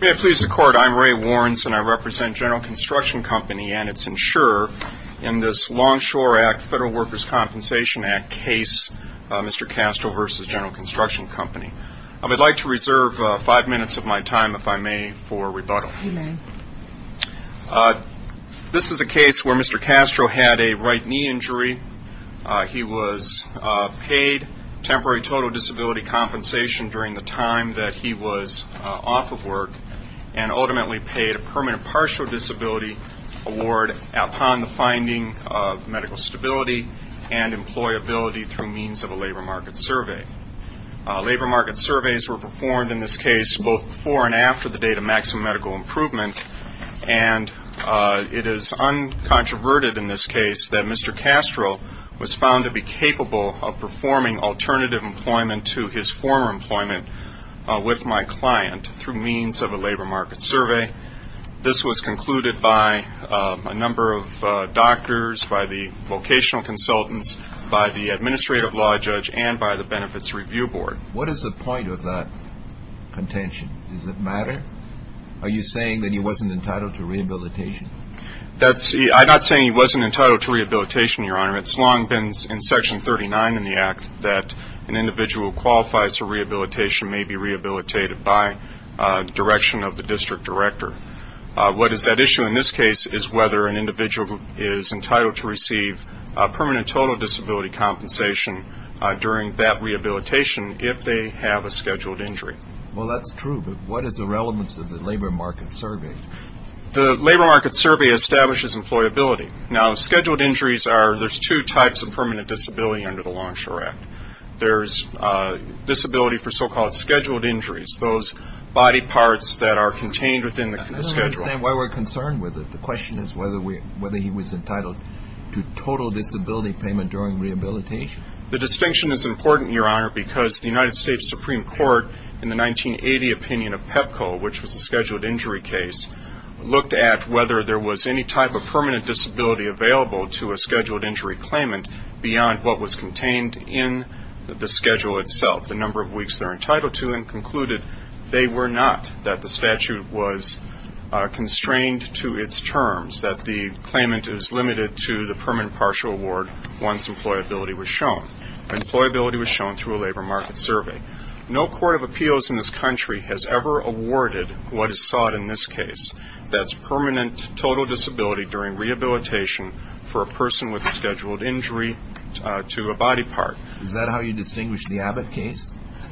May it please the Court, I'm Ray Warrens and I represent General Construction Company and its insurer in this Longshore Act Federal Workers' Compensation Act case, Mr. Castro v. General Construction Company. I would like to reserve five minutes of my time, if I may, for rebuttal. This is a case where Mr. Castro had a right knee injury. He was paid temporary total disability compensation during the time that he was off of work and ultimately paid a permanent partial disability award upon the finding of medical stability and employability through means of a labor market survey. Labor market surveys were performed in this case both before and after the date of maximum medical improvement and it is uncontroverted in this case that Mr. Castro was found to be capable of performing alternative employment to his former employment with my client through means of a labor market survey. This was concluded by a number of doctors, by the vocational consultants, by the Administrative Law Judge and by the Benefits Review Board. What is the point of that contention? Does it matter? Are you saying that he wasn't entitled to rehabilitation? I'm not saying he wasn't entitled to rehabilitation, Your Honor. It's long been in Section 39 in the Act that an individual who qualifies for rehabilitation may be rehabilitated by direction of the district director. What is at issue in this case is whether an individual is entitled to receive permanent total disability compensation during that rehabilitation if they have a performance of the labor market survey. The labor market survey establishes employability. Now, scheduled injuries are, there's two types of permanent disability under the Longshore Act. There's disability for so-called scheduled injuries, those body parts that are contained within the schedule. I don't understand why we're concerned with it. The question is whether he was entitled to total disability payment during rehabilitation. The distinction is important, Your Honor, because the United States Supreme Court in the 1980 opinion of PEPCO, which was a scheduled injury case, looked at whether there was any type of permanent disability available to a scheduled injury claimant beyond what was contained in the schedule itself, the number of weeks they're entitled to, and concluded they were not, that the statute was constrained to its terms, that the claimant is limited to the permanent partial award once employability was shown. Employability was shown through a labor market survey. No court of appeals in this country has ever awarded what is sought in this case. That's permanent total disability during rehabilitation for a person with a scheduled injury to a body part. Is that how you distinguish the Abbott case?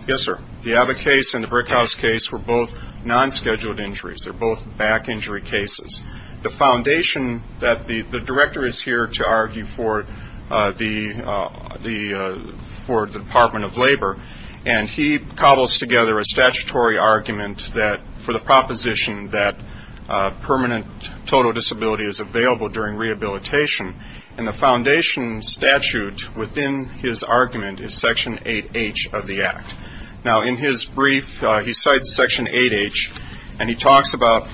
Yes, sir. The Abbott case and the Brickhouse case were both non-scheduled injuries. They're both back injury cases. The foundation that the Director is here to argue for the Department of Labor, and he cobbles together a statutory argument for the proposition that permanent total disability is available during rehabilitation, and the foundation statute within his argument is Section 8H of the Act. Now, in his brief, he cites Section 8H, and he talks about…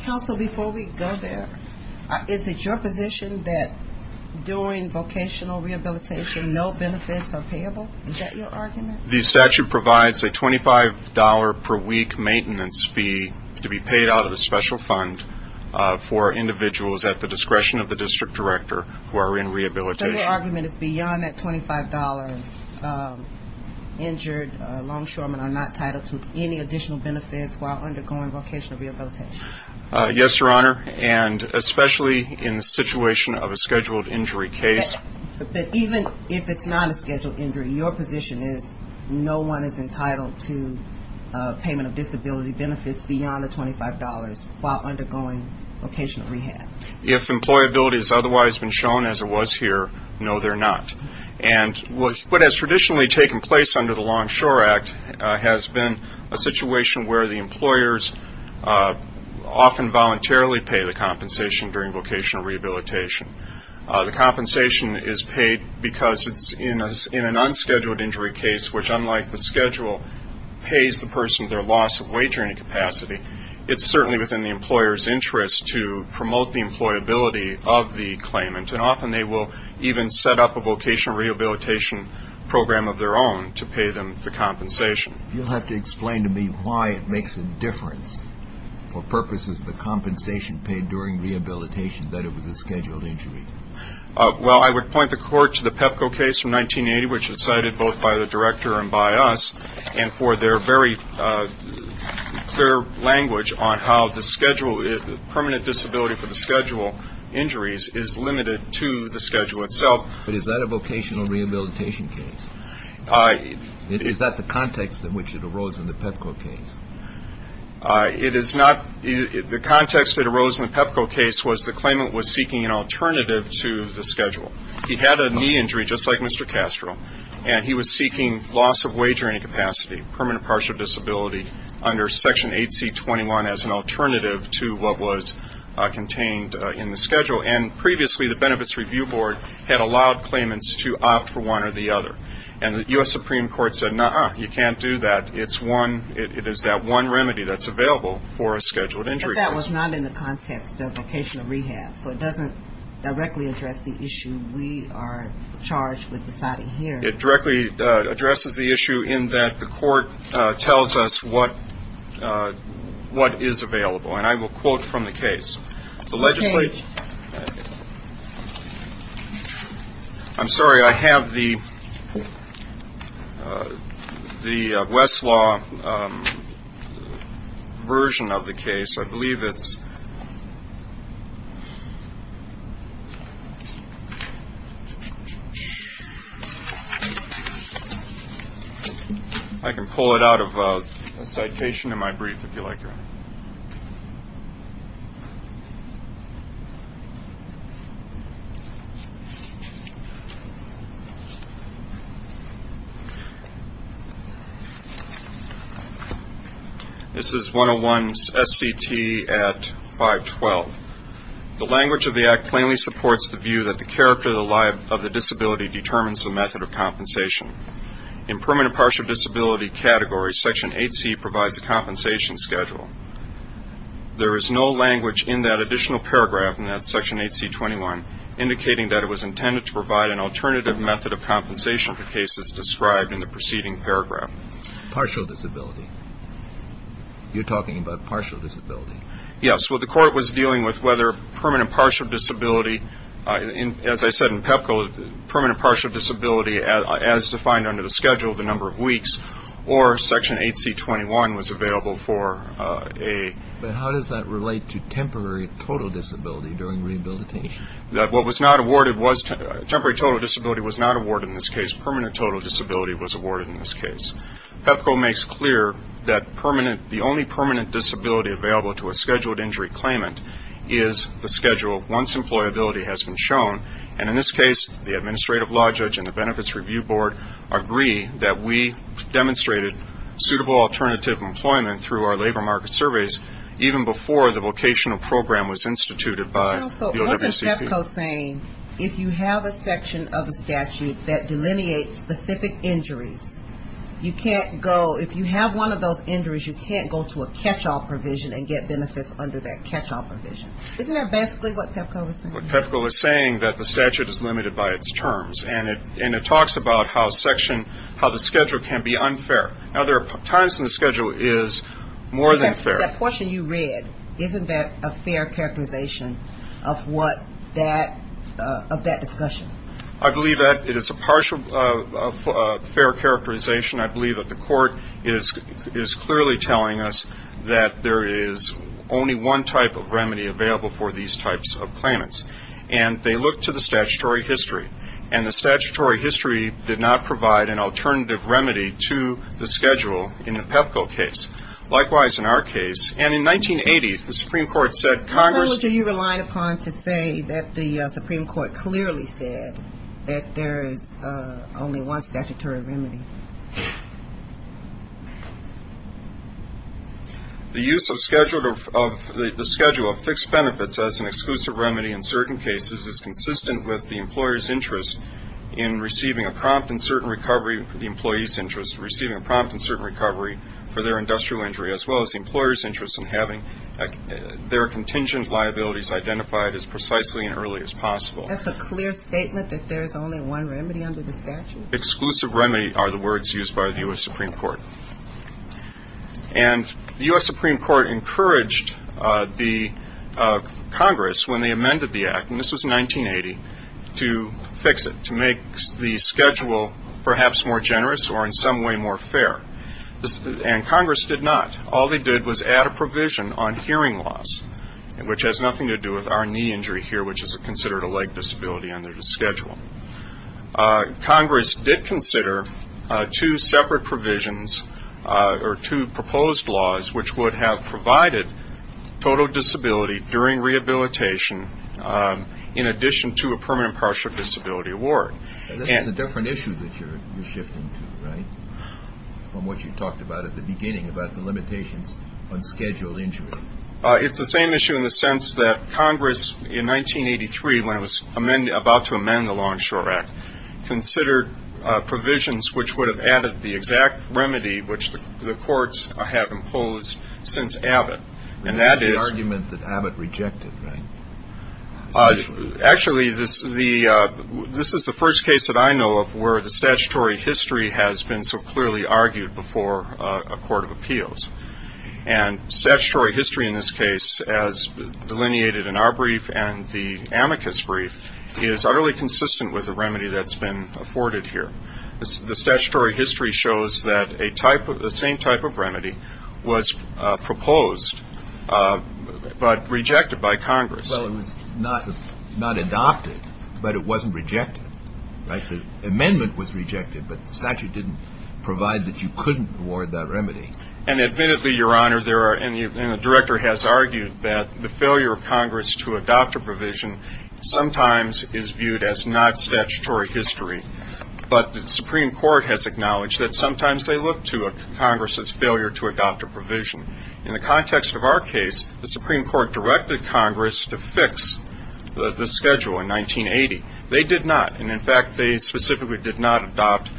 Counsel, before we go there, is it your position that during vocational rehabilitation, no benefits are payable? Is that your argument? The statute provides a $25 per week maintenance fee to be paid out of a special fund for individuals at the discretion of the district director who are in rehabilitation. So your argument is beyond that $25, injured longshoremen are not entitled to any additional benefits while undergoing vocational rehabilitation? Yes, Your Honor, and especially in the situation of a scheduled injury case. But even if it's not a scheduled injury, your position is no one is entitled to payment of disability benefits beyond the $25 while undergoing vocational rehab? If employability has otherwise been shown as it was here, no, they're not. And what has traditionally taken place under the Longshore Act has been a situation where the employers often voluntarily pay the compensation during vocational rehabilitation. The compensation is paid because it's in an unscheduled injury case, which unlike the schedule, pays the person their loss of wagering capacity. It's certainly within the employer's interest to promote the employability of the claimant, and often they will even set up a vocational rehabilitation program of their own to pay them the compensation. You'll have to explain to me why it makes a difference for purposes of the compensation paid during rehabilitation that it was a scheduled injury. Well, I would point the Court to the Pepco case from 1980, which was cited both by the director and by us, and for their very clear language on how the schedule, permanent compensation of disability for the schedule injuries, is limited to the schedule itself. But is that a vocational rehabilitation case? Is that the context in which it arose in the Pepco case? It is not. The context that arose in the Pepco case was the claimant was seeking an alternative to the schedule. He had a knee injury, just like Mr. Castro, and he was seeking loss of wagering capacity, permanent partial disability, under Section 8C21 as an alternative to what was contained in the schedule. And previously, the Benefits Review Board had allowed claimants to opt for one or the other. And the U.S. Supreme Court said, no, you can't do that. It's one, it is that one remedy that's available for a scheduled injury. But that was not in the context of vocational rehab, so it doesn't directly address the issue we are charged with deciding here. It directly addresses the issue in that the Court tells us what is available. And I will quote from the case. I'm sorry, I have the Westlaw version of the case. I believe it's ‑‑ I can pull it out of a citation in my brief, if you like. This is 101 S.C.T. at 512. The language of the Act plainly supports the view that the character of the disability determines the method of compensation. In permanent partial disability category, Section 8C provides a compensation schedule. There is no language in that additional paragraph in that Section 8C21 indicating that it was intended to provide an alternative method of compensation for cases described in the preceding paragraph. Partial disability. You're talking about partial disability. Yes. Well, the Court was dealing with whether permanent partial disability, as I said in the previous case, or Section 8C21 was available for a ‑‑ But how does that relate to temporary total disability during rehabilitation? What was not awarded was ‑‑ temporary total disability was not awarded in this case. Permanent total disability was awarded in this case. PEPCO makes clear that the only permanent disability available to a scheduled injury claimant is the schedule once employability has been shown. And in this case, the Administrative Law Judge and the Benefits Review Board agree that we demonstrated suitable alternative employment through our labor market surveys even before the vocational program was instituted by the OWCP. So wasn't PEPCO saying if you have a section of a statute that delineates specific injuries, you can't go ‑‑ if you have one of those injuries, you can't go to a catchall provision and get benefits under that catchall provision. Isn't that basically what PEPCO was saying? PEPCO was saying that the statute is limited by its terms. And it talks about how section ‑‑ how the schedule can be unfair. Now, there are times when the schedule is more than fair. That portion you read, isn't that a fair characterization of what that ‑‑ of that discussion? I believe that it is a partial fair characterization. I believe that the court is clearly telling us that there is only one type of remedy available for these types of claimants. And they look to the statutory history. And the statutory history did not provide an alternative remedy to the schedule in the PEPCO case. Likewise, in our case. And in 1980, the Supreme Court said Congress ‑‑ How much are you relying upon to say that the Supreme Court clearly said that there is only one statutory remedy? The use of schedule of ‑‑ the schedule of fixed benefits as an exclusive remedy in certain cases is consistent with the employer's interest in receiving a prompt in certain recovery for the employee's interest, receiving a prompt in certain recovery for their industrial injury, as well as the employer's interest in having their contingent liabilities identified as precisely and early as possible. That's a clear statement that there is only one remedy under the statute? Exclusive remedy are the words used by the U.S. Supreme Court. And the U.S. Supreme Court encouraged the Congress, when they amended the act, and this was 1980, to fix it, to make the schedule perhaps more generous or in some way more fair. And Congress did not. All they did was add a provision on hearing loss, which has nothing to do with our knee injury here, which is considered a leg disability under the schedule. Congress did consider two separate provisions or two proposed laws which would have provided total disability during rehabilitation in addition to a permanent partial disability award. This is a different issue that you're shifting to, right, from what you talked about at the beginning about the limitations on scheduled injury? It's the same issue in the sense that Congress, in 1983, when it was about to amend the Long Shore Act, considered provisions which would have added the exact remedy which the courts have imposed since Abbott. And that is the argument that Abbott rejected, right? Actually, this is the first case that I know of where the statutory history has been so The statutory history in this case, as delineated in our brief and the amicus brief, is utterly consistent with the remedy that's been afforded here. The statutory history shows that a type of the same type of remedy was proposed, but rejected by Congress. Well, it was not adopted, but it wasn't rejected, right? The amendment was rejected, but the statute didn't provide that you couldn't award that remedy. And admittedly, Your Honor, there are, and the Director has argued that the failure of Congress to adopt a provision sometimes is viewed as not statutory history, but the Supreme Court has acknowledged that sometimes they look to Congress's failure to adopt a provision. In the context of our case, the Supreme Court directed Congress to fix the schedule in 1980. They did not, and in fact, they specifically did not adopt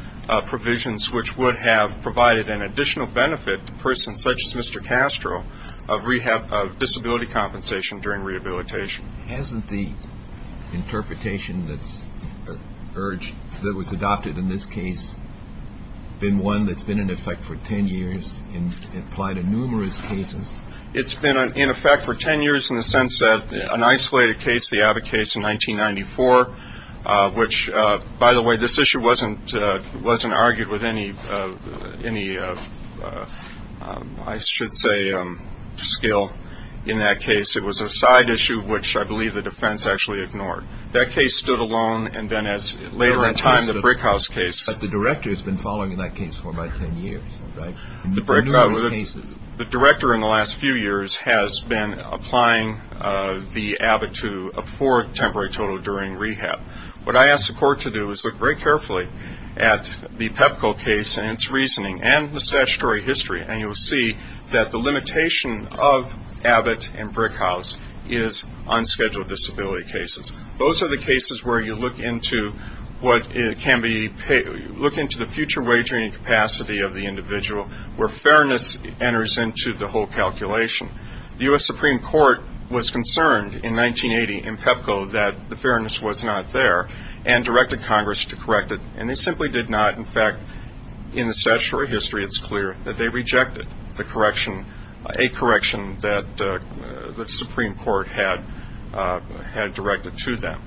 provisions which would have provided an additional benefit to persons such as Mr. Castro of rehab, of disability compensation during rehabilitation. Hasn't the interpretation that's urged, that was adopted in this case, been one that's been in effect for 10 years and applied in numerous cases? It's been in effect for 10 years in the sense that an isolated case, the Abbott case in any, I should say, scale in that case, it was a side issue which I believe the defense actually ignored. That case stood alone, and then as later in time, the Brickhouse case But the Director has been following in that case for about 10 years, right? The Director in the last few years has been applying the Abbott to afford temporary total during rehab. What I asked the Court to do is look very carefully at the Pepco case and its reasoning and the statutory history, and you'll see that the limitation of Abbott and Brickhouse is unscheduled disability cases. Those are the cases where you look into what can be, look into the future wagering capacity of the individual where fairness enters into the whole calculation. The U.S. Supreme Court was concerned in 1980 in Pepco that the fairness was not there and they directed Congress to correct it, and they simply did not. In fact, in the statutory history, it's clear that they rejected the correction, a correction that the Supreme Court had directed to them.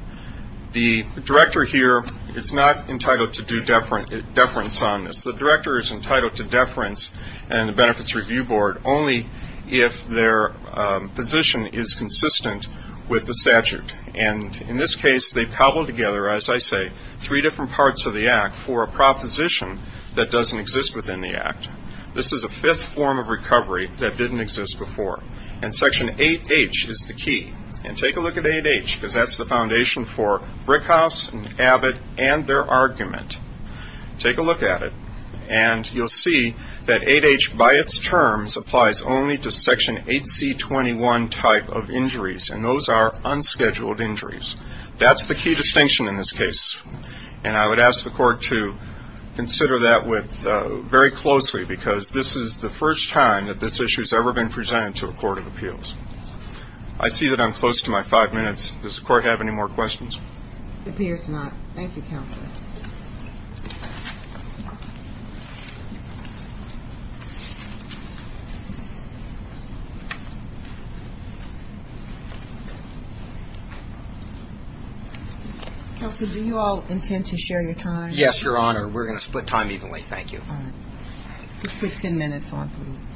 The Director here is not entitled to do deference on this. The Director is entitled to deference in the Benefits Review Board only if their position is consistent with the statute. And in this case, they cobbled together, as I say, three different parts of the Act for a proposition that doesn't exist within the Act. This is a fifth form of recovery that didn't exist before. And Section 8H is the key. And take a look at 8H because that's the foundation for Brickhouse and Abbott and their argument. Take a look at it and you'll see that 8H by its terms applies only to Section 8C21 type of injuries, and those are unscheduled injuries. That's the key distinction in this case. And I would ask the Court to consider that very closely because this is the first time that this issue has ever been presented to a court of appeals. I see that I'm close to my five minutes. Does the Court have any more questions? It appears not. Thank you, Counselor. Counselor, do you all intend to share your time? Yes, Your Honor. We're going to split time evenly. Thank you. All right. Just put 10 minutes on, please.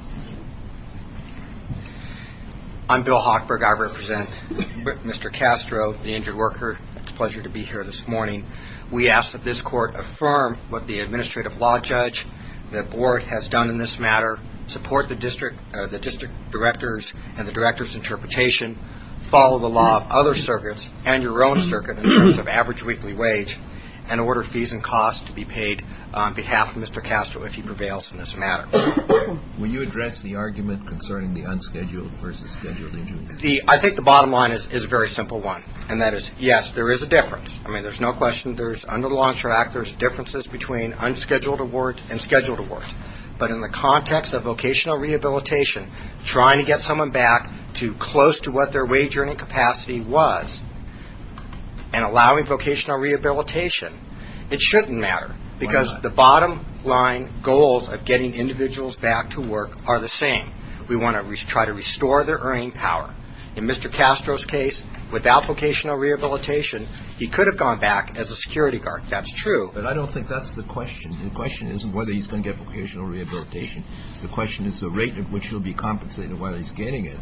I'm Bill Hochberg. I represent Mr. Castro, the injured worker. It's a pleasure to be here this morning. We ask that this Court affirm what the administrative law judge, the Board, has done in this matter, support the district directors and the directors' interpretation, follow the law of other circuits and your own circuit in terms of average weekly wage, and order fees and costs to be paid on behalf of Mr. Castro if he prevails in this matter. Will you address the argument concerning the unscheduled versus scheduled injuries? I think the bottom line is a very simple one, and that is, yes, there is a difference. I mean, there's no question. Under the Law Ensure Act, there's differences between unscheduled awards and scheduled awards. But in the context of vocational rehabilitation, trying to get someone back to close to what their wage earning capacity was and allowing vocational rehabilitation, it shouldn't matter, because the bottom line goals of getting individuals back to work are the same. We want to try to restore their earning power. In Mr. Castro's case, without vocational rehabilitation, he could have gone back as a security guard. That's true. But I don't think that's the question. The question isn't whether he's going to get vocational rehabilitation. The question is the rate at which he'll be compensated while he's getting it.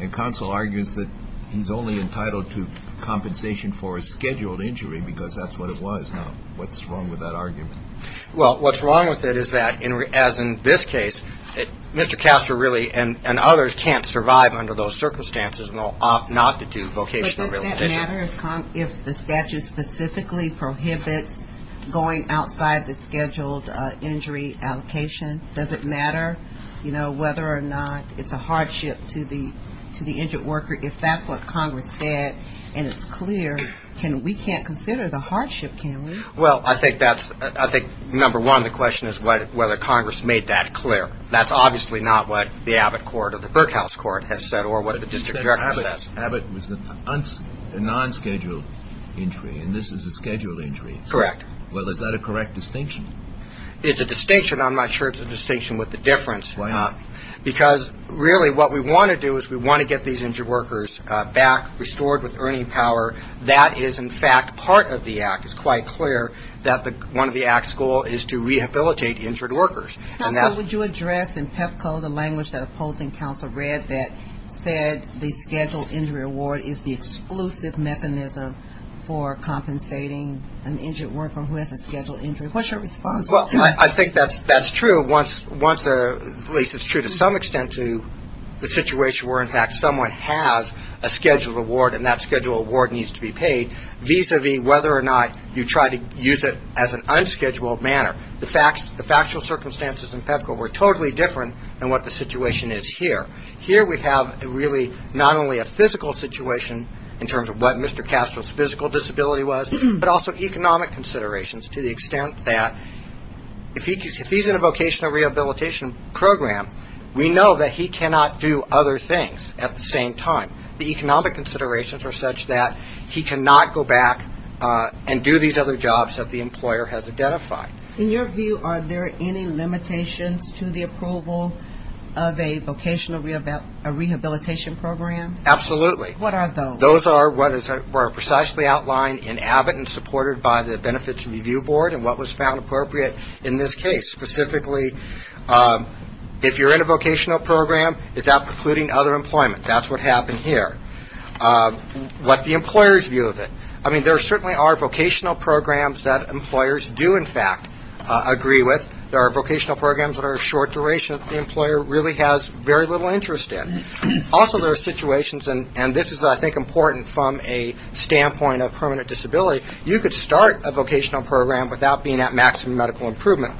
And counsel argues that he's only entitled to compensation for a scheduled injury because that's what it was. Now, what's wrong with that argument? Well, what's wrong with it is that, as in this case, Mr. Castro really and others can't survive under those circumstances not to do vocational rehabilitation. But does that matter if the statute specifically prohibits going outside the scheduled injury allocation? Does it matter, you know, whether or not it's a hardship to the injured worker? If that's what Congress said and it's clear, we can't consider the hardship, can we? Well, I think number one, the question is whether Congress made that clear. That's obviously not what the Abbott court or the Berkhouse court has said or what the district director says. But you said Abbott was a non-scheduled injury and this is a scheduled injury. Correct. Well, is that a correct distinction? It's a distinction. I'm not sure it's a distinction with the difference. Why not? Because really what we want to do is we want to get these injured workers back, restored with earning power. That is, in fact, part of the act. It's quite clear that one of the act's goal is to rehabilitate injured workers. Counsel, would you address in PEPCO the language that opposing counsel read that said the scheduled injury award is the exclusive mechanism for compensating an injured worker who has a scheduled injury? What's your response to that? Well, I think that's true once at least it's true to some extent to the situation where, in fact, someone has a scheduled award and that scheduled award needs to be paid vis-a-vis whether or not you try to use it as an unscheduled manner. The factual circumstances in PEPCO were totally different than what the situation is here. Here we have really not only a physical situation in terms of what Mr. Castro's physical disability was, but also economic considerations to the extent that if he's in a vocational rehabilitation program, we know that he cannot do other things at the same time. The economic considerations are such that he cannot go back and do these other jobs that the employer has identified. In your view, are there any limitations to the approval of a vocational rehabilitation program? Absolutely. What are those? Those are what are precisely outlined in AVID and supported by the Benefits Review Board and what was found appropriate in this case. Specifically, if you're in a vocational program, is that precluding other employment? That's what happened here. What's the employer's view of it? I mean, there certainly are vocational programs that employers do, in fact, agree with. There are vocational programs that are short duration that the employer really has very little interest in. Also, there are situations, and this is, I think, important from a standpoint of permanent disability, you could start a vocational program without being at maximum medical improvement.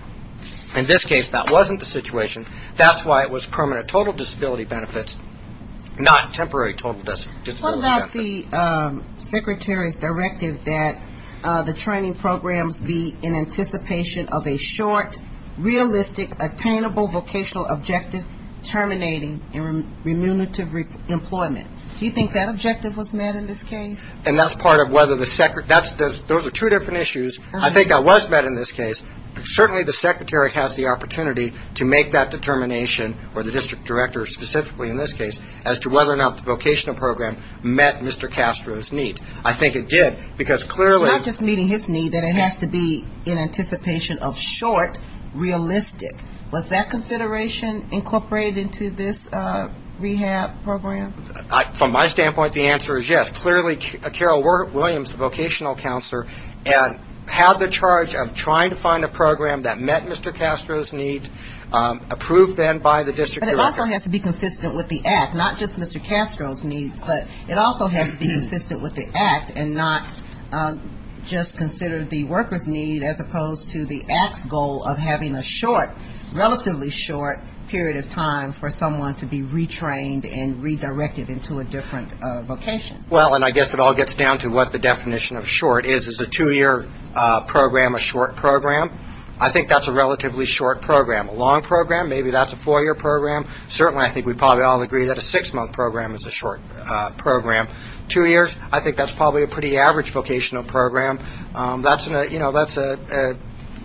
In this case, that wasn't the situation. That's why it was permanent total disability benefits, not temporary total disability benefits. What about the secretary's directive that the training programs be in anticipation of a short, realistic, attainable vocational objective terminating in remunerative employment? Do you think that objective was met in this case? Those are two different issues. I think that was met in this case. Certainly the secretary has the opportunity to make that determination, or the district director specifically in this case, as to whether or not the vocational program met Mr. Castro's need. I think it did, because clearly ‑‑ Not just meeting his need, that it has to be in anticipation of short, realistic. Was that consideration incorporated into this rehab program? From my standpoint, the answer is yes. Clearly Carol Williams, the vocational counselor, had the charge of trying to find a program that met Mr. Castro's need, approved then by the district director. But it also has to be consistent with the act, not just Mr. Castro's needs, but it also has to be consistent with the act and not just consider the worker's need as opposed to the act's goal of having a short, relatively short period of time for someone to be retrained and redirected into a different vocation. Well, and I guess it all gets down to what the definition of short is. Is a two‑year program a short program? I think that's a relatively short program. A long program, maybe that's a four‑year program. Certainly I think we probably all agree that a six‑month program is a short program. Two years, I think that's probably a pretty average vocational program. That's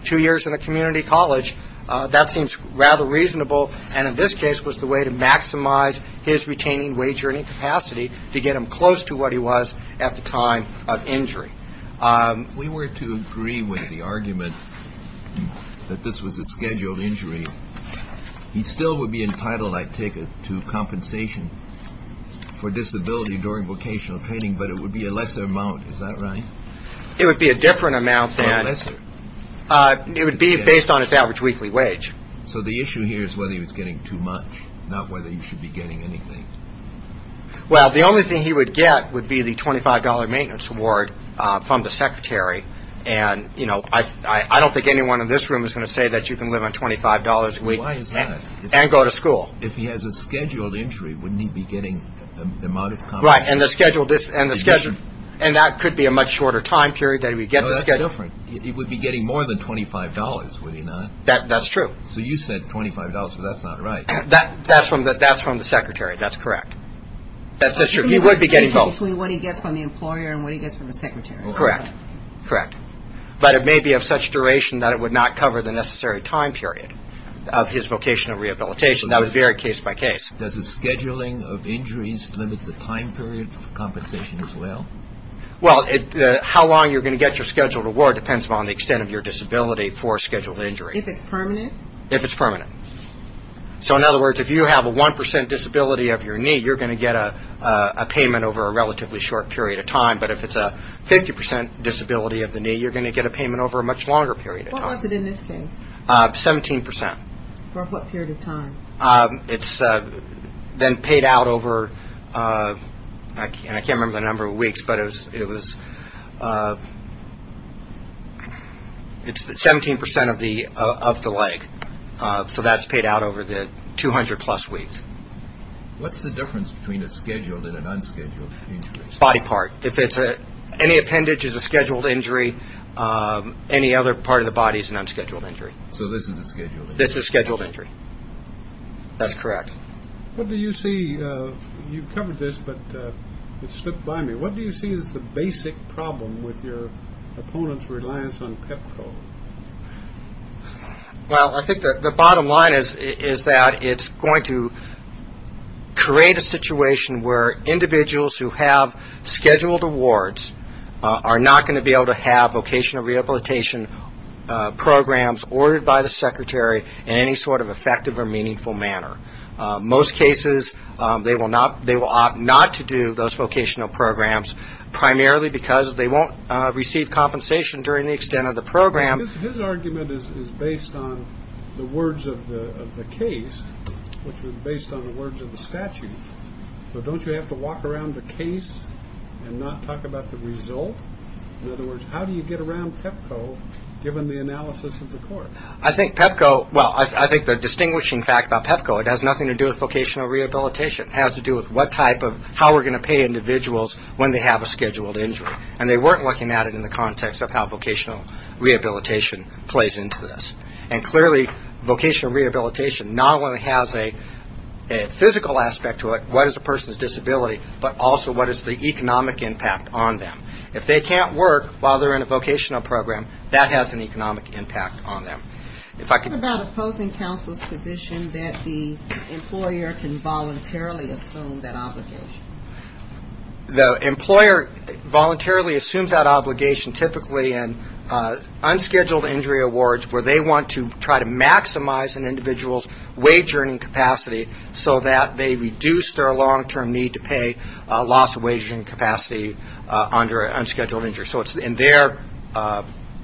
two years in a community college. That seems rather reasonable, and in this case was the way to maximize his retaining wage earning capacity to get him close to what he was at the time of injury. If we were to agree with the argument that this was a scheduled injury, he still would be entitled, I take it, to compensation for disability during vocational training, but it would be a lesser amount, is that right? It would be a different amount. A lesser? It would be based on his average weekly wage. So the issue here is whether he was getting too much, not whether he should be getting anything. Well, the only thing he would get would be the $25 maintenance award from the secretary, and I don't think anyone in this room is going to say that you can live on $25 a week and go to school. If he has a scheduled injury, wouldn't he be getting the amount of compensation? Right, and that could be a much shorter time period. No, that's different. He would be getting more than $25, would he not? That's true. So you said $25, but that's not right. That's from the secretary. That's correct. That's true. He would be getting both. Between what he gets from the employer and what he gets from the secretary. Correct, correct. But it may be of such duration that it would not cover the necessary time period of his vocational rehabilitation. That would vary case by case. Does the scheduling of injuries limit the time period of compensation as well? Well, how long you're going to get your scheduled award depends upon the extent of your disability for a scheduled injury. If it's permanent? If it's permanent. So, in other words, if you have a 1% disability of your knee, you're going to get a payment over a relatively short period of time. But if it's a 50% disability of the knee, you're going to get a payment over a much longer period of time. What was it in this case? 17%. For what period of time? It's then paid out over, and I can't remember the number of weeks, but it was 17% of the leg. So that's paid out over the 200-plus weeks. What's the difference between a scheduled and an unscheduled injury? Body part. If it's any appendage, it's a scheduled injury. Any other part of the body is an unscheduled injury. So this is a scheduled injury? This is a scheduled injury. That's correct. What do you see? You covered this, but it slipped by me. What do you see as the basic problem with your opponent's reliance on PEPCO? Well, I think the bottom line is that it's going to create a situation where individuals who have scheduled awards are not going to be able to have vocational rehabilitation programs ordered by the secretary in any sort of effective or meaningful manner. Most cases, they will opt not to do those vocational programs, primarily because they won't receive compensation during the extent of the program. His argument is based on the words of the case, which was based on the words of the statute. So don't you have to walk around the case and not talk about the result? In other words, how do you get around PEPCO, given the analysis of the court? I think PEPCO, well, I think the distinguishing fact about PEPCO, it has nothing to do with vocational rehabilitation. It has to do with what type of, how we're going to pay individuals when they have a scheduled injury. And they weren't looking at it in the context of how vocational rehabilitation plays into this. And clearly, vocational rehabilitation not only has a physical aspect to it, what is a person's disability, but also what is the economic impact on them. If they can't work while they're in a vocational program, that has an economic impact on them. What about opposing counsel's position that the employer can voluntarily assume that obligation? The employer voluntarily assumes that obligation typically in unscheduled injury awards, where they want to try to maximize an individual's wage earning capacity, so that they reduce their long-term need to pay loss of wage earning capacity under unscheduled injury. So it's in their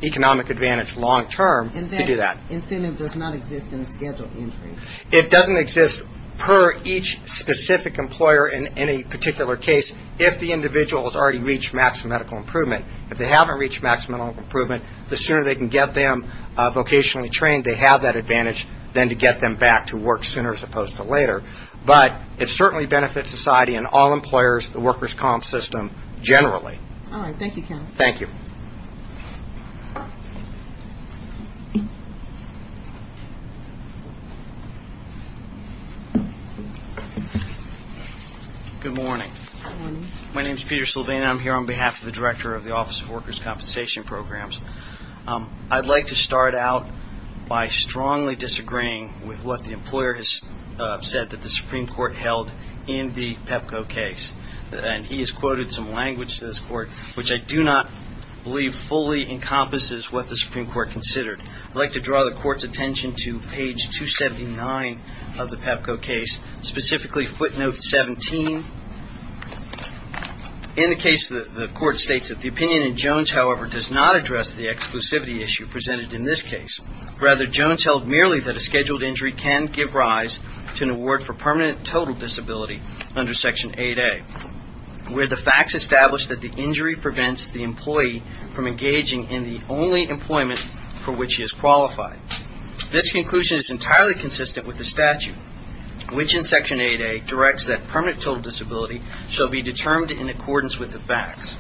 economic advantage long-term to do that. And that incentive does not exist in a scheduled injury? It doesn't exist per each specific employer in any particular case, if the individual has already reached maximum medical improvement. If they haven't reached maximum medical improvement, the sooner they can get them vocationally trained, they have that advantage, then to get them back to work sooner as opposed to later. But it certainly benefits society and all employers, the workers' comp system generally. All right. Thank you, counsel. Thank you. Good morning. Good morning. My name is Peter Silvina. I'm here on behalf of the Director of the Office of Workers' Compensation Programs. I'd like to start out by strongly disagreeing with what the employer has said that the Supreme Court held in the PEPCO case. And he has quoted some language to this Court, which I do not believe fully encompasses what the Supreme Court considered. I'd like to draw the Court's attention to page 279 of the PEPCO case, specifically footnote 17. In the case, the Court states that the opinion in Jones, however, does not address the exclusivity issue presented in this case. Rather, Jones held merely that a scheduled injury can give rise to an award for permanent total disability under Section 8A, where the facts establish that the injury prevents the employee from engaging in the only employment for which he is qualified. This conclusion is entirely consistent with the statute, which in Section 8A, directs that permanent total disability shall be determined in accordance with the facts.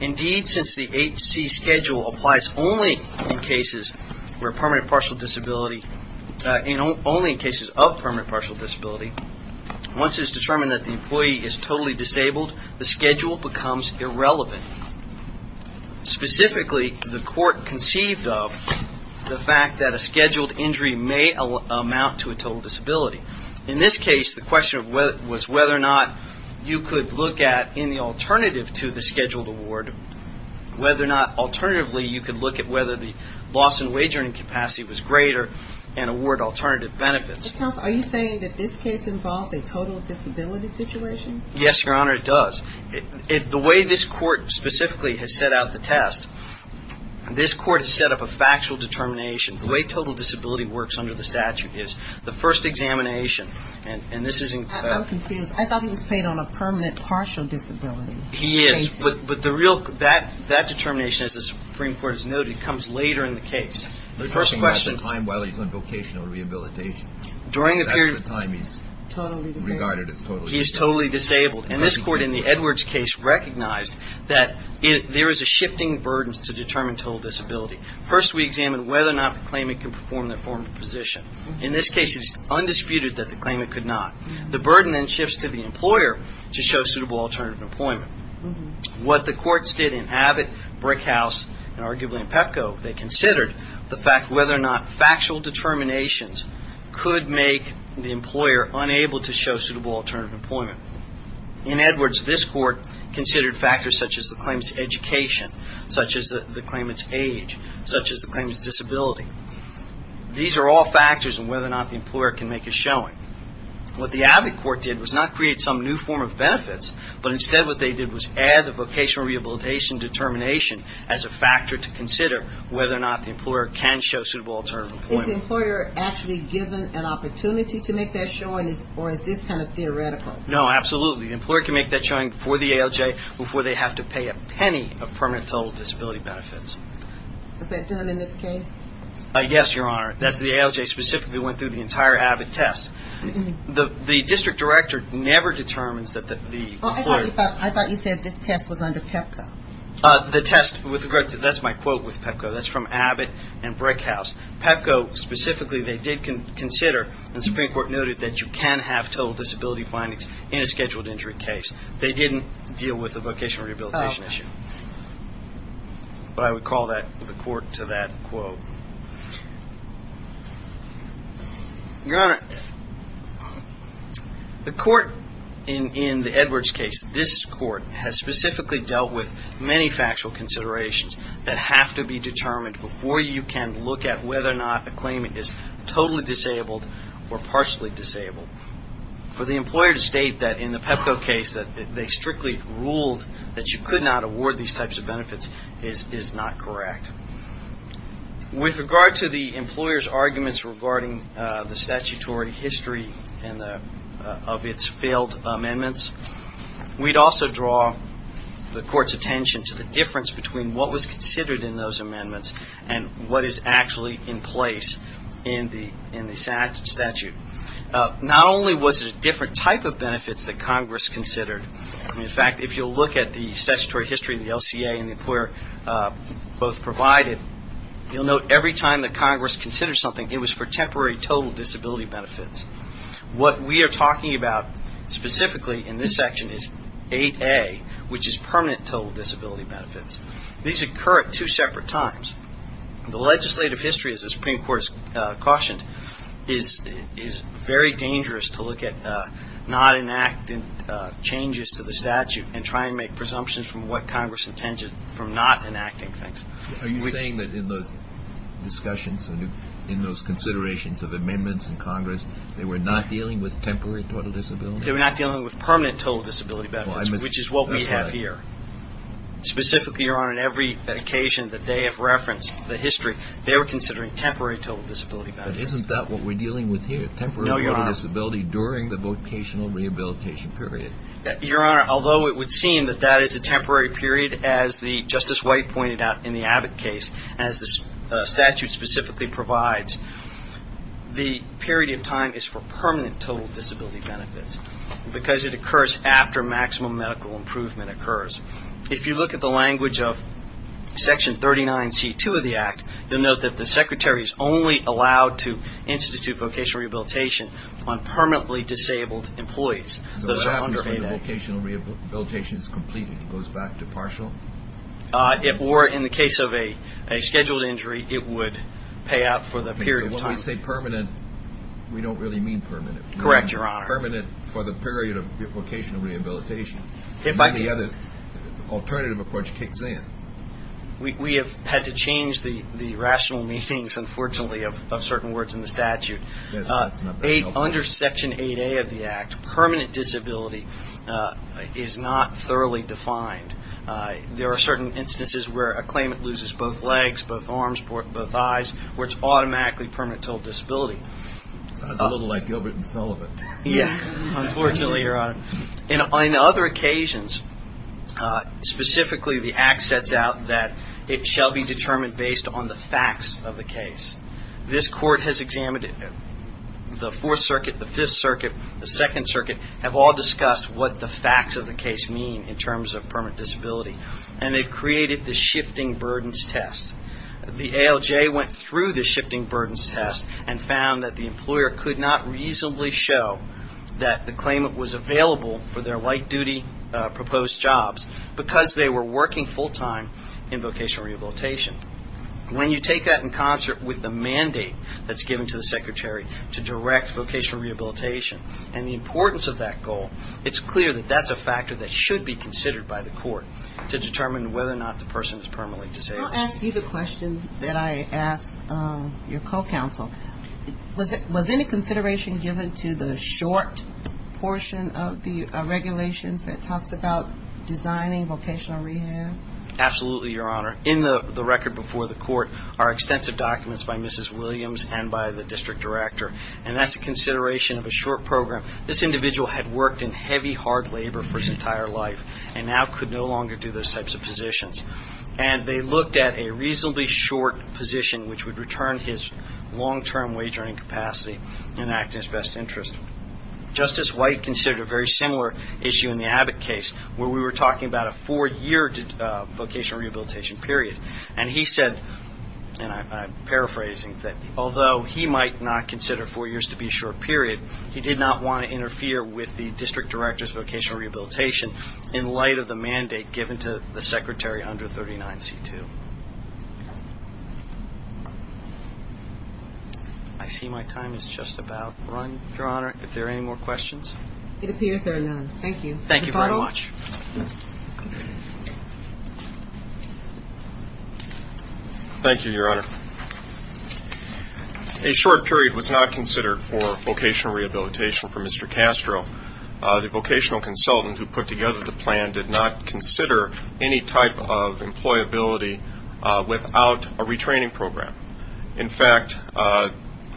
Indeed, since the 8C schedule applies only in cases of permanent partial disability, once it is determined that the employee is totally disabled, the schedule becomes irrelevant. Specifically, the Court conceived of the fact that a scheduled injury may amount to a total disability. In this case, the question was whether or not you could look at, in the alternative to the scheduled award, whether or not alternatively you could look at whether the loss in wagering capacity was greater and award alternative benefits. Are you saying that this case involves a total disability situation? Yes, Your Honor, it does. The way this Court specifically has set out the test, this Court has set up a factual determination. The way total disability works under the statute is the first examination. And this is in the ---- I'm confused. I thought he was paid on a permanent partial disability. He is. But the real ---- that determination, as the Supreme Court has noted, comes later in the case. The first question ---- You're talking about the time while he's on vocational rehabilitation. During the period ---- That's the time he's totally disabled. He's totally disabled. And this Court, in the Edwards case, recognized that there is a shifting burden to determine total disability. First, we examine whether or not the claimant can perform their former position. In this case, it is undisputed that the claimant could not. The burden then shifts to the employer to show suitable alternative employment. What the courts did in Abbott, Brickhouse, and arguably in Pepco, they considered the fact whether or not factual determinations could make the employer unable to show suitable alternative employment. In Edwards, this Court considered factors such as the claimant's education, such as the claimant's age, such as the claimant's disability. These are all factors in whether or not the employer can make a showing. What the Abbott Court did was not create some new form of benefits, but instead what they did was add the vocational rehabilitation determination as a factor to consider whether or not the employer can show suitable alternative employment. Is the employer actually given an opportunity to make that showing, or is this kind of theoretical? No, absolutely. The employer can make that showing for the ALJ before they have to pay a penny of permanent total disability benefits. Is that done in this case? Yes, Your Honor. The ALJ specifically went through the entire Abbott test. The district director never determines that the employer... I thought you said this test was under Pepco. The test, that's my quote with Pepco, that's from Abbott and Brickhouse. Pepco, specifically, they did consider, and the Supreme Court noted that you can have total disability findings in a scheduled injury case. They didn't deal with the vocational rehabilitation issue. But I would call the court to that quote. Your Honor, the court in the Edwards case, this court has specifically dealt with many factual considerations that have to be determined before you can look at whether or not a claimant is totally disabled or partially disabled. For the employer to state that in the Pepco case, that they strictly ruled that you could not award these types of benefits is not correct. With regard to the employer's arguments regarding the statutory history of its failed amendments, we'd also draw the court's attention to the difference between what was considered in those amendments and what is actually in place in the statute. Not only was it a different type of benefits that Congress considered. In fact, if you'll look at the statutory history of the LCA and the employer both provided, you'll note every time that Congress considered something, it was for temporary total disability benefits. What we are talking about specifically in this section is 8A, which is permanent total disability benefits. These occur at two separate times. The legislative history, as the Supreme Court has cautioned, is very dangerous to look at not enacting changes to the statute and try and make presumptions from what Congress intended from not enacting things. Are you saying that in those discussions, in those considerations of amendments in Congress, they were not dealing with temporary total disability benefits? They were not dealing with permanent total disability benefits, which is what we have here. Specifically, Your Honor, on every occasion that they have referenced the history, they were considering temporary total disability benefits. But isn't that what we're dealing with here? No, Your Honor. Temporary total disability during the vocational rehabilitation period. Your Honor, although it would seem that that is a temporary period, as Justice White pointed out in the Abbott case, as the statute specifically provides, the period of time is for permanent total disability benefits because it occurs after maximum medical improvement occurs. If you look at the language of Section 39C2 of the Act, you'll note that the Secretary is only allowed to institute vocational rehabilitation on permanently disabled employees. Those are under 8A. So what happens when the vocational rehabilitation is completed? It goes back to partial? Or in the case of a scheduled injury, it would pay out for the period of time. Okay, so when we say permanent, we don't really mean permanent. Correct, Your Honor. Permanent for the period of vocational rehabilitation. If I could. Then the other alternative approach kicks in. We have had to change the rational meanings, unfortunately, of certain words in the statute. Yes, that's not very helpful. Under Section 8A of the Act, permanent disability is not thoroughly defined. There are certain instances where a claimant loses both legs, both arms, both eyes, where it's automatically permanent total disability. Sounds a little like Gilbert and Sullivan. Yes, unfortunately, Your Honor. On other occasions, specifically the Act sets out that it shall be determined based on the facts of the case. This Court has examined it. The Fourth Circuit, the Fifth Circuit, the Second Circuit, have all discussed what the facts of the case mean in terms of permanent disability. And they've created the shifting burdens test. The ALJ went through the shifting burdens test and found that the employer could not reasonably show that the claimant was available for their light-duty proposed jobs because they were working full-time in vocational rehabilitation. When you take that in concert with the mandate that's given to the secretary to direct vocational rehabilitation and the importance of that goal, it's clear that that's a factor that should be considered by the Court to determine whether or not the person is permanently disabled. I'll ask you the question that I asked your co-counsel. Was any consideration given to the short portion of the regulations that talks about designing vocational rehab? Absolutely, Your Honor. In the record before the Court are extensive documents by Mrs. Williams and by the district director, and that's a consideration of a short program. This individual had worked in heavy, hard labor for his entire life and now could no longer do those types of positions. And they looked at a reasonably short position which would return his long-term wage earning capacity and act in his best interest. Justice White considered a very similar issue in the Abbott case where we were talking about a four-year vocational rehabilitation period. And he said, and I'm paraphrasing, that although he might not consider four years to be a short period, he did not want to interfere with the district director's vocational rehabilitation in light of the mandate given to the secretary under 39C2. I see my time is just about run, Your Honor. Are there any more questions? It appears there are none. Thank you. Thank you very much. Thank you, Your Honor. A short period was not considered for vocational rehabilitation for Mr. Castro. The vocational consultant who put together the plan did not consider any type of employability without a retraining program. In fact,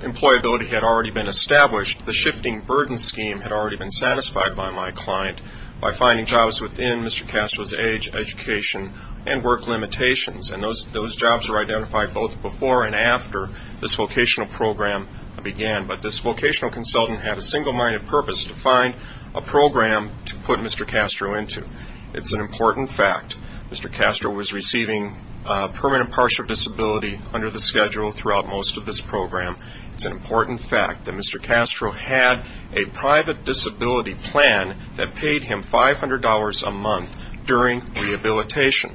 employability had already been established. The shifting burden scheme had already been satisfied by my client by finding jobs within Mr. Castro's age, education, and work limitations. And those jobs were identified both before and after this vocational program began. But this vocational consultant had a single-minded purpose to find a program to put Mr. Castro into. It's an important fact. Mr. Castro was receiving permanent partial disability under the schedule throughout most of this program. It's an important fact that Mr. Castro had a private disability plan that paid him $500 a month during rehabilitation.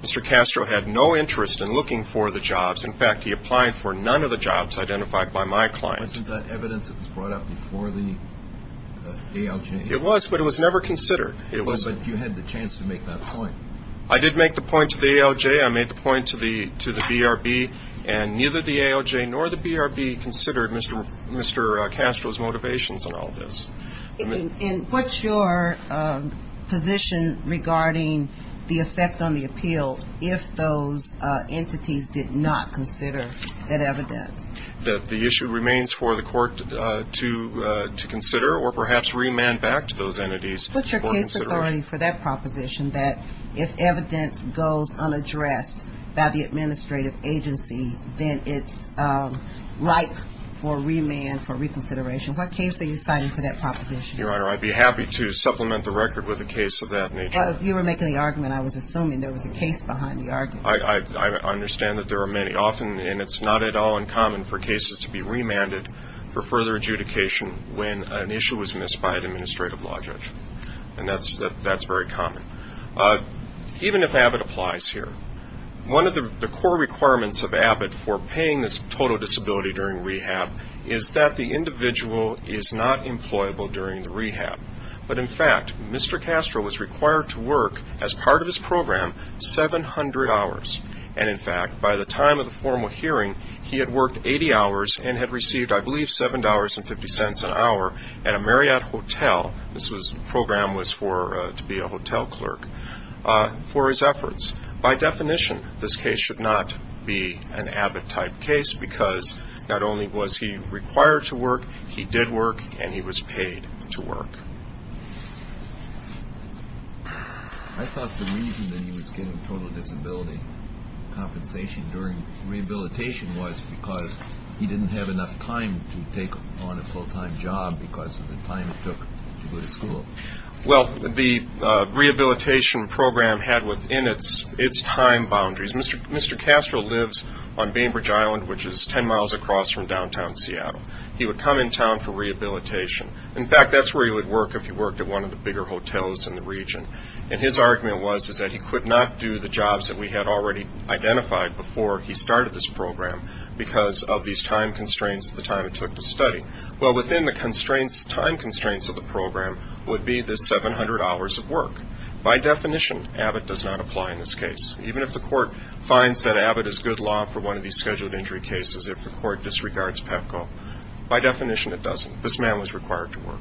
Mr. Castro had no interest in looking for the jobs. In fact, he applied for none of the jobs identified by my client. Wasn't that evidence that was brought up before the ALJ? It was, but it was never considered. But you had the chance to make that point. I did make the point to the ALJ. I made the point to the BRB. And neither the ALJ nor the BRB considered Mr. Castro's motivations in all this. And what's your position regarding the effect on the appeal if those entities did not consider that evidence? That the issue remains for the court to consider or perhaps remand back to those entities. What's your case authority for that proposition that if evidence goes unaddressed by the administrative agency, then it's ripe for remand, for reconsideration? What case are you citing for that proposition? Your Honor, I'd be happy to supplement the record with a case of that nature. Well, if you were making the argument, I was assuming there was a case behind the argument. I understand that there are many. Often, and it's not at all uncommon for cases to be remanded for further adjudication when an issue was missed by an administrative law judge. And that's very common. Even if Abbott applies here, one of the core requirements of Abbott for paying this total disability during rehab is that the individual is not employable during the rehab. But, in fact, Mr. Castro was required to work, as part of his program, 700 hours. And, in fact, by the time of the formal hearing, he had worked 80 hours and had received, I believe, $7.50 an hour at a Marriott hotel. This program was to be a hotel clerk for his efforts. By definition, this case should not be an Abbott-type case because not only was he required to work, he did work, and he was paid to work. I thought the reason that he was given total disability compensation during rehabilitation was because he didn't have enough time to take on a full-time job because of the time it took to go to school. Well, the rehabilitation program had within its time boundaries. Mr. Castro lives on Bainbridge Island, which is 10 miles across from downtown Seattle. He would come in town for rehabilitation. In fact, that's where he would work if he worked at one of the bigger hotels in the region. And his argument was that he could not do the jobs that we had already identified before he started this program because of these time constraints at the time it took to study. Well, within the time constraints of the program would be the 700 hours of work. By definition, Abbott does not apply in this case. Even if the court finds that Abbott is good law for one of these scheduled injury cases, if the court disregards PEPCO, by definition, it doesn't. This man was required to work.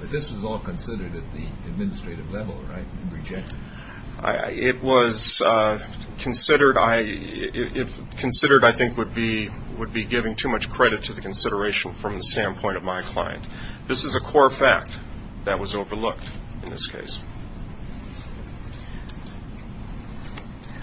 But this was all considered at the administrative level, right, and rejected? It was considered, I think, would be giving too much credit to the consideration from the standpoint of my client. This is a core fact that was overlooked in this case.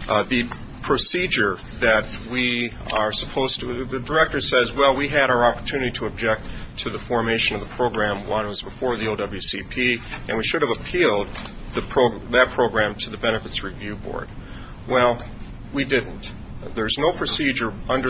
The procedure that we are supposed to – the director says, well, we had our opportunity to object to the formation of the program when it was before the OWCP, and we should have appealed that program to the Benefits Review Board. Well, we didn't. There's no procedure at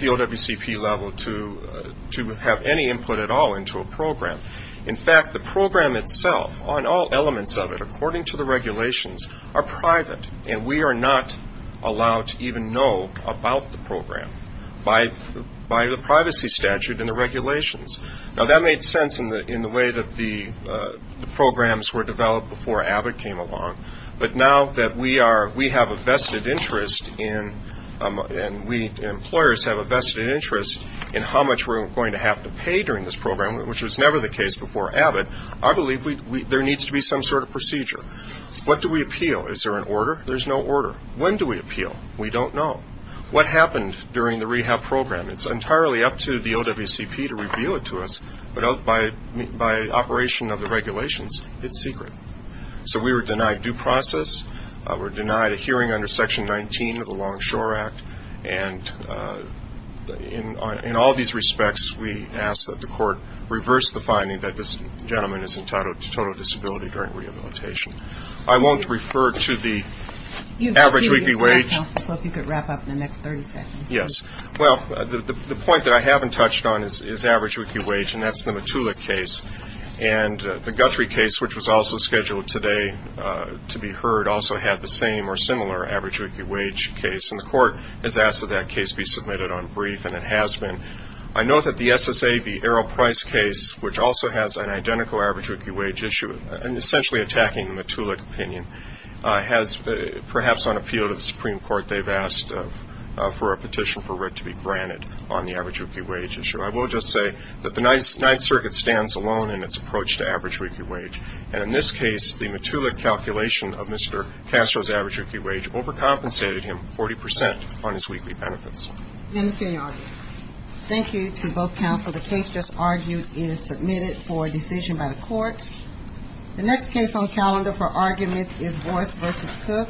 the OWCP level to have any input at all into a program. In fact, the program itself, on all elements of it, according to the regulations, are private, and we are not allowed to even know about the program by the privacy statute and the regulations. Now, that made sense in the way that the programs were developed before Abbott came along, but now that we have a vested interest in – and we employers have a vested interest in how much we're going to have to pay during this program, which was never the case before Abbott, I believe there needs to be some sort of procedure. What do we appeal? Is there an order? There's no order. When do we appeal? We don't know. What happened during the rehab program? It's entirely up to the OWCP to reveal it to us, but by operation of the regulations, it's secret. So we were denied due process. We were denied a hearing under Section 19 of the Longshore Act, and in all these respects, we ask that the court reverse the finding that this gentleman is in total disability during rehabilitation. I won't refer to the average weekly wage. If you could wrap up in the next 30 seconds. Yes. Well, the point that I haven't touched on is average weekly wage, and that's the Matulak case. And the Guthrie case, which was also scheduled today to be heard, also had the same or similar average weekly wage case. And the court has asked that that case be submitted on brief, and it has been. I note that the SSA v. Arrow Price case, which also has an identical average weekly wage issue, and essentially attacking the Matulak opinion, has perhaps on appeal to the Supreme Court they've asked for a petition for writ to be granted on the average weekly wage issue. I will just say that the Ninth Circuit stands alone in its approach to average weekly wage. And in this case, the Matulak calculation of Mr. Castro's average weekly wage overcompensated him 40 percent on his weekly benefits. I understand your argument. Thank you to both counsel. The case just argued is submitted for decision by the court. The next case on calendar for argument is Worth v. Cook. Thank you for watching.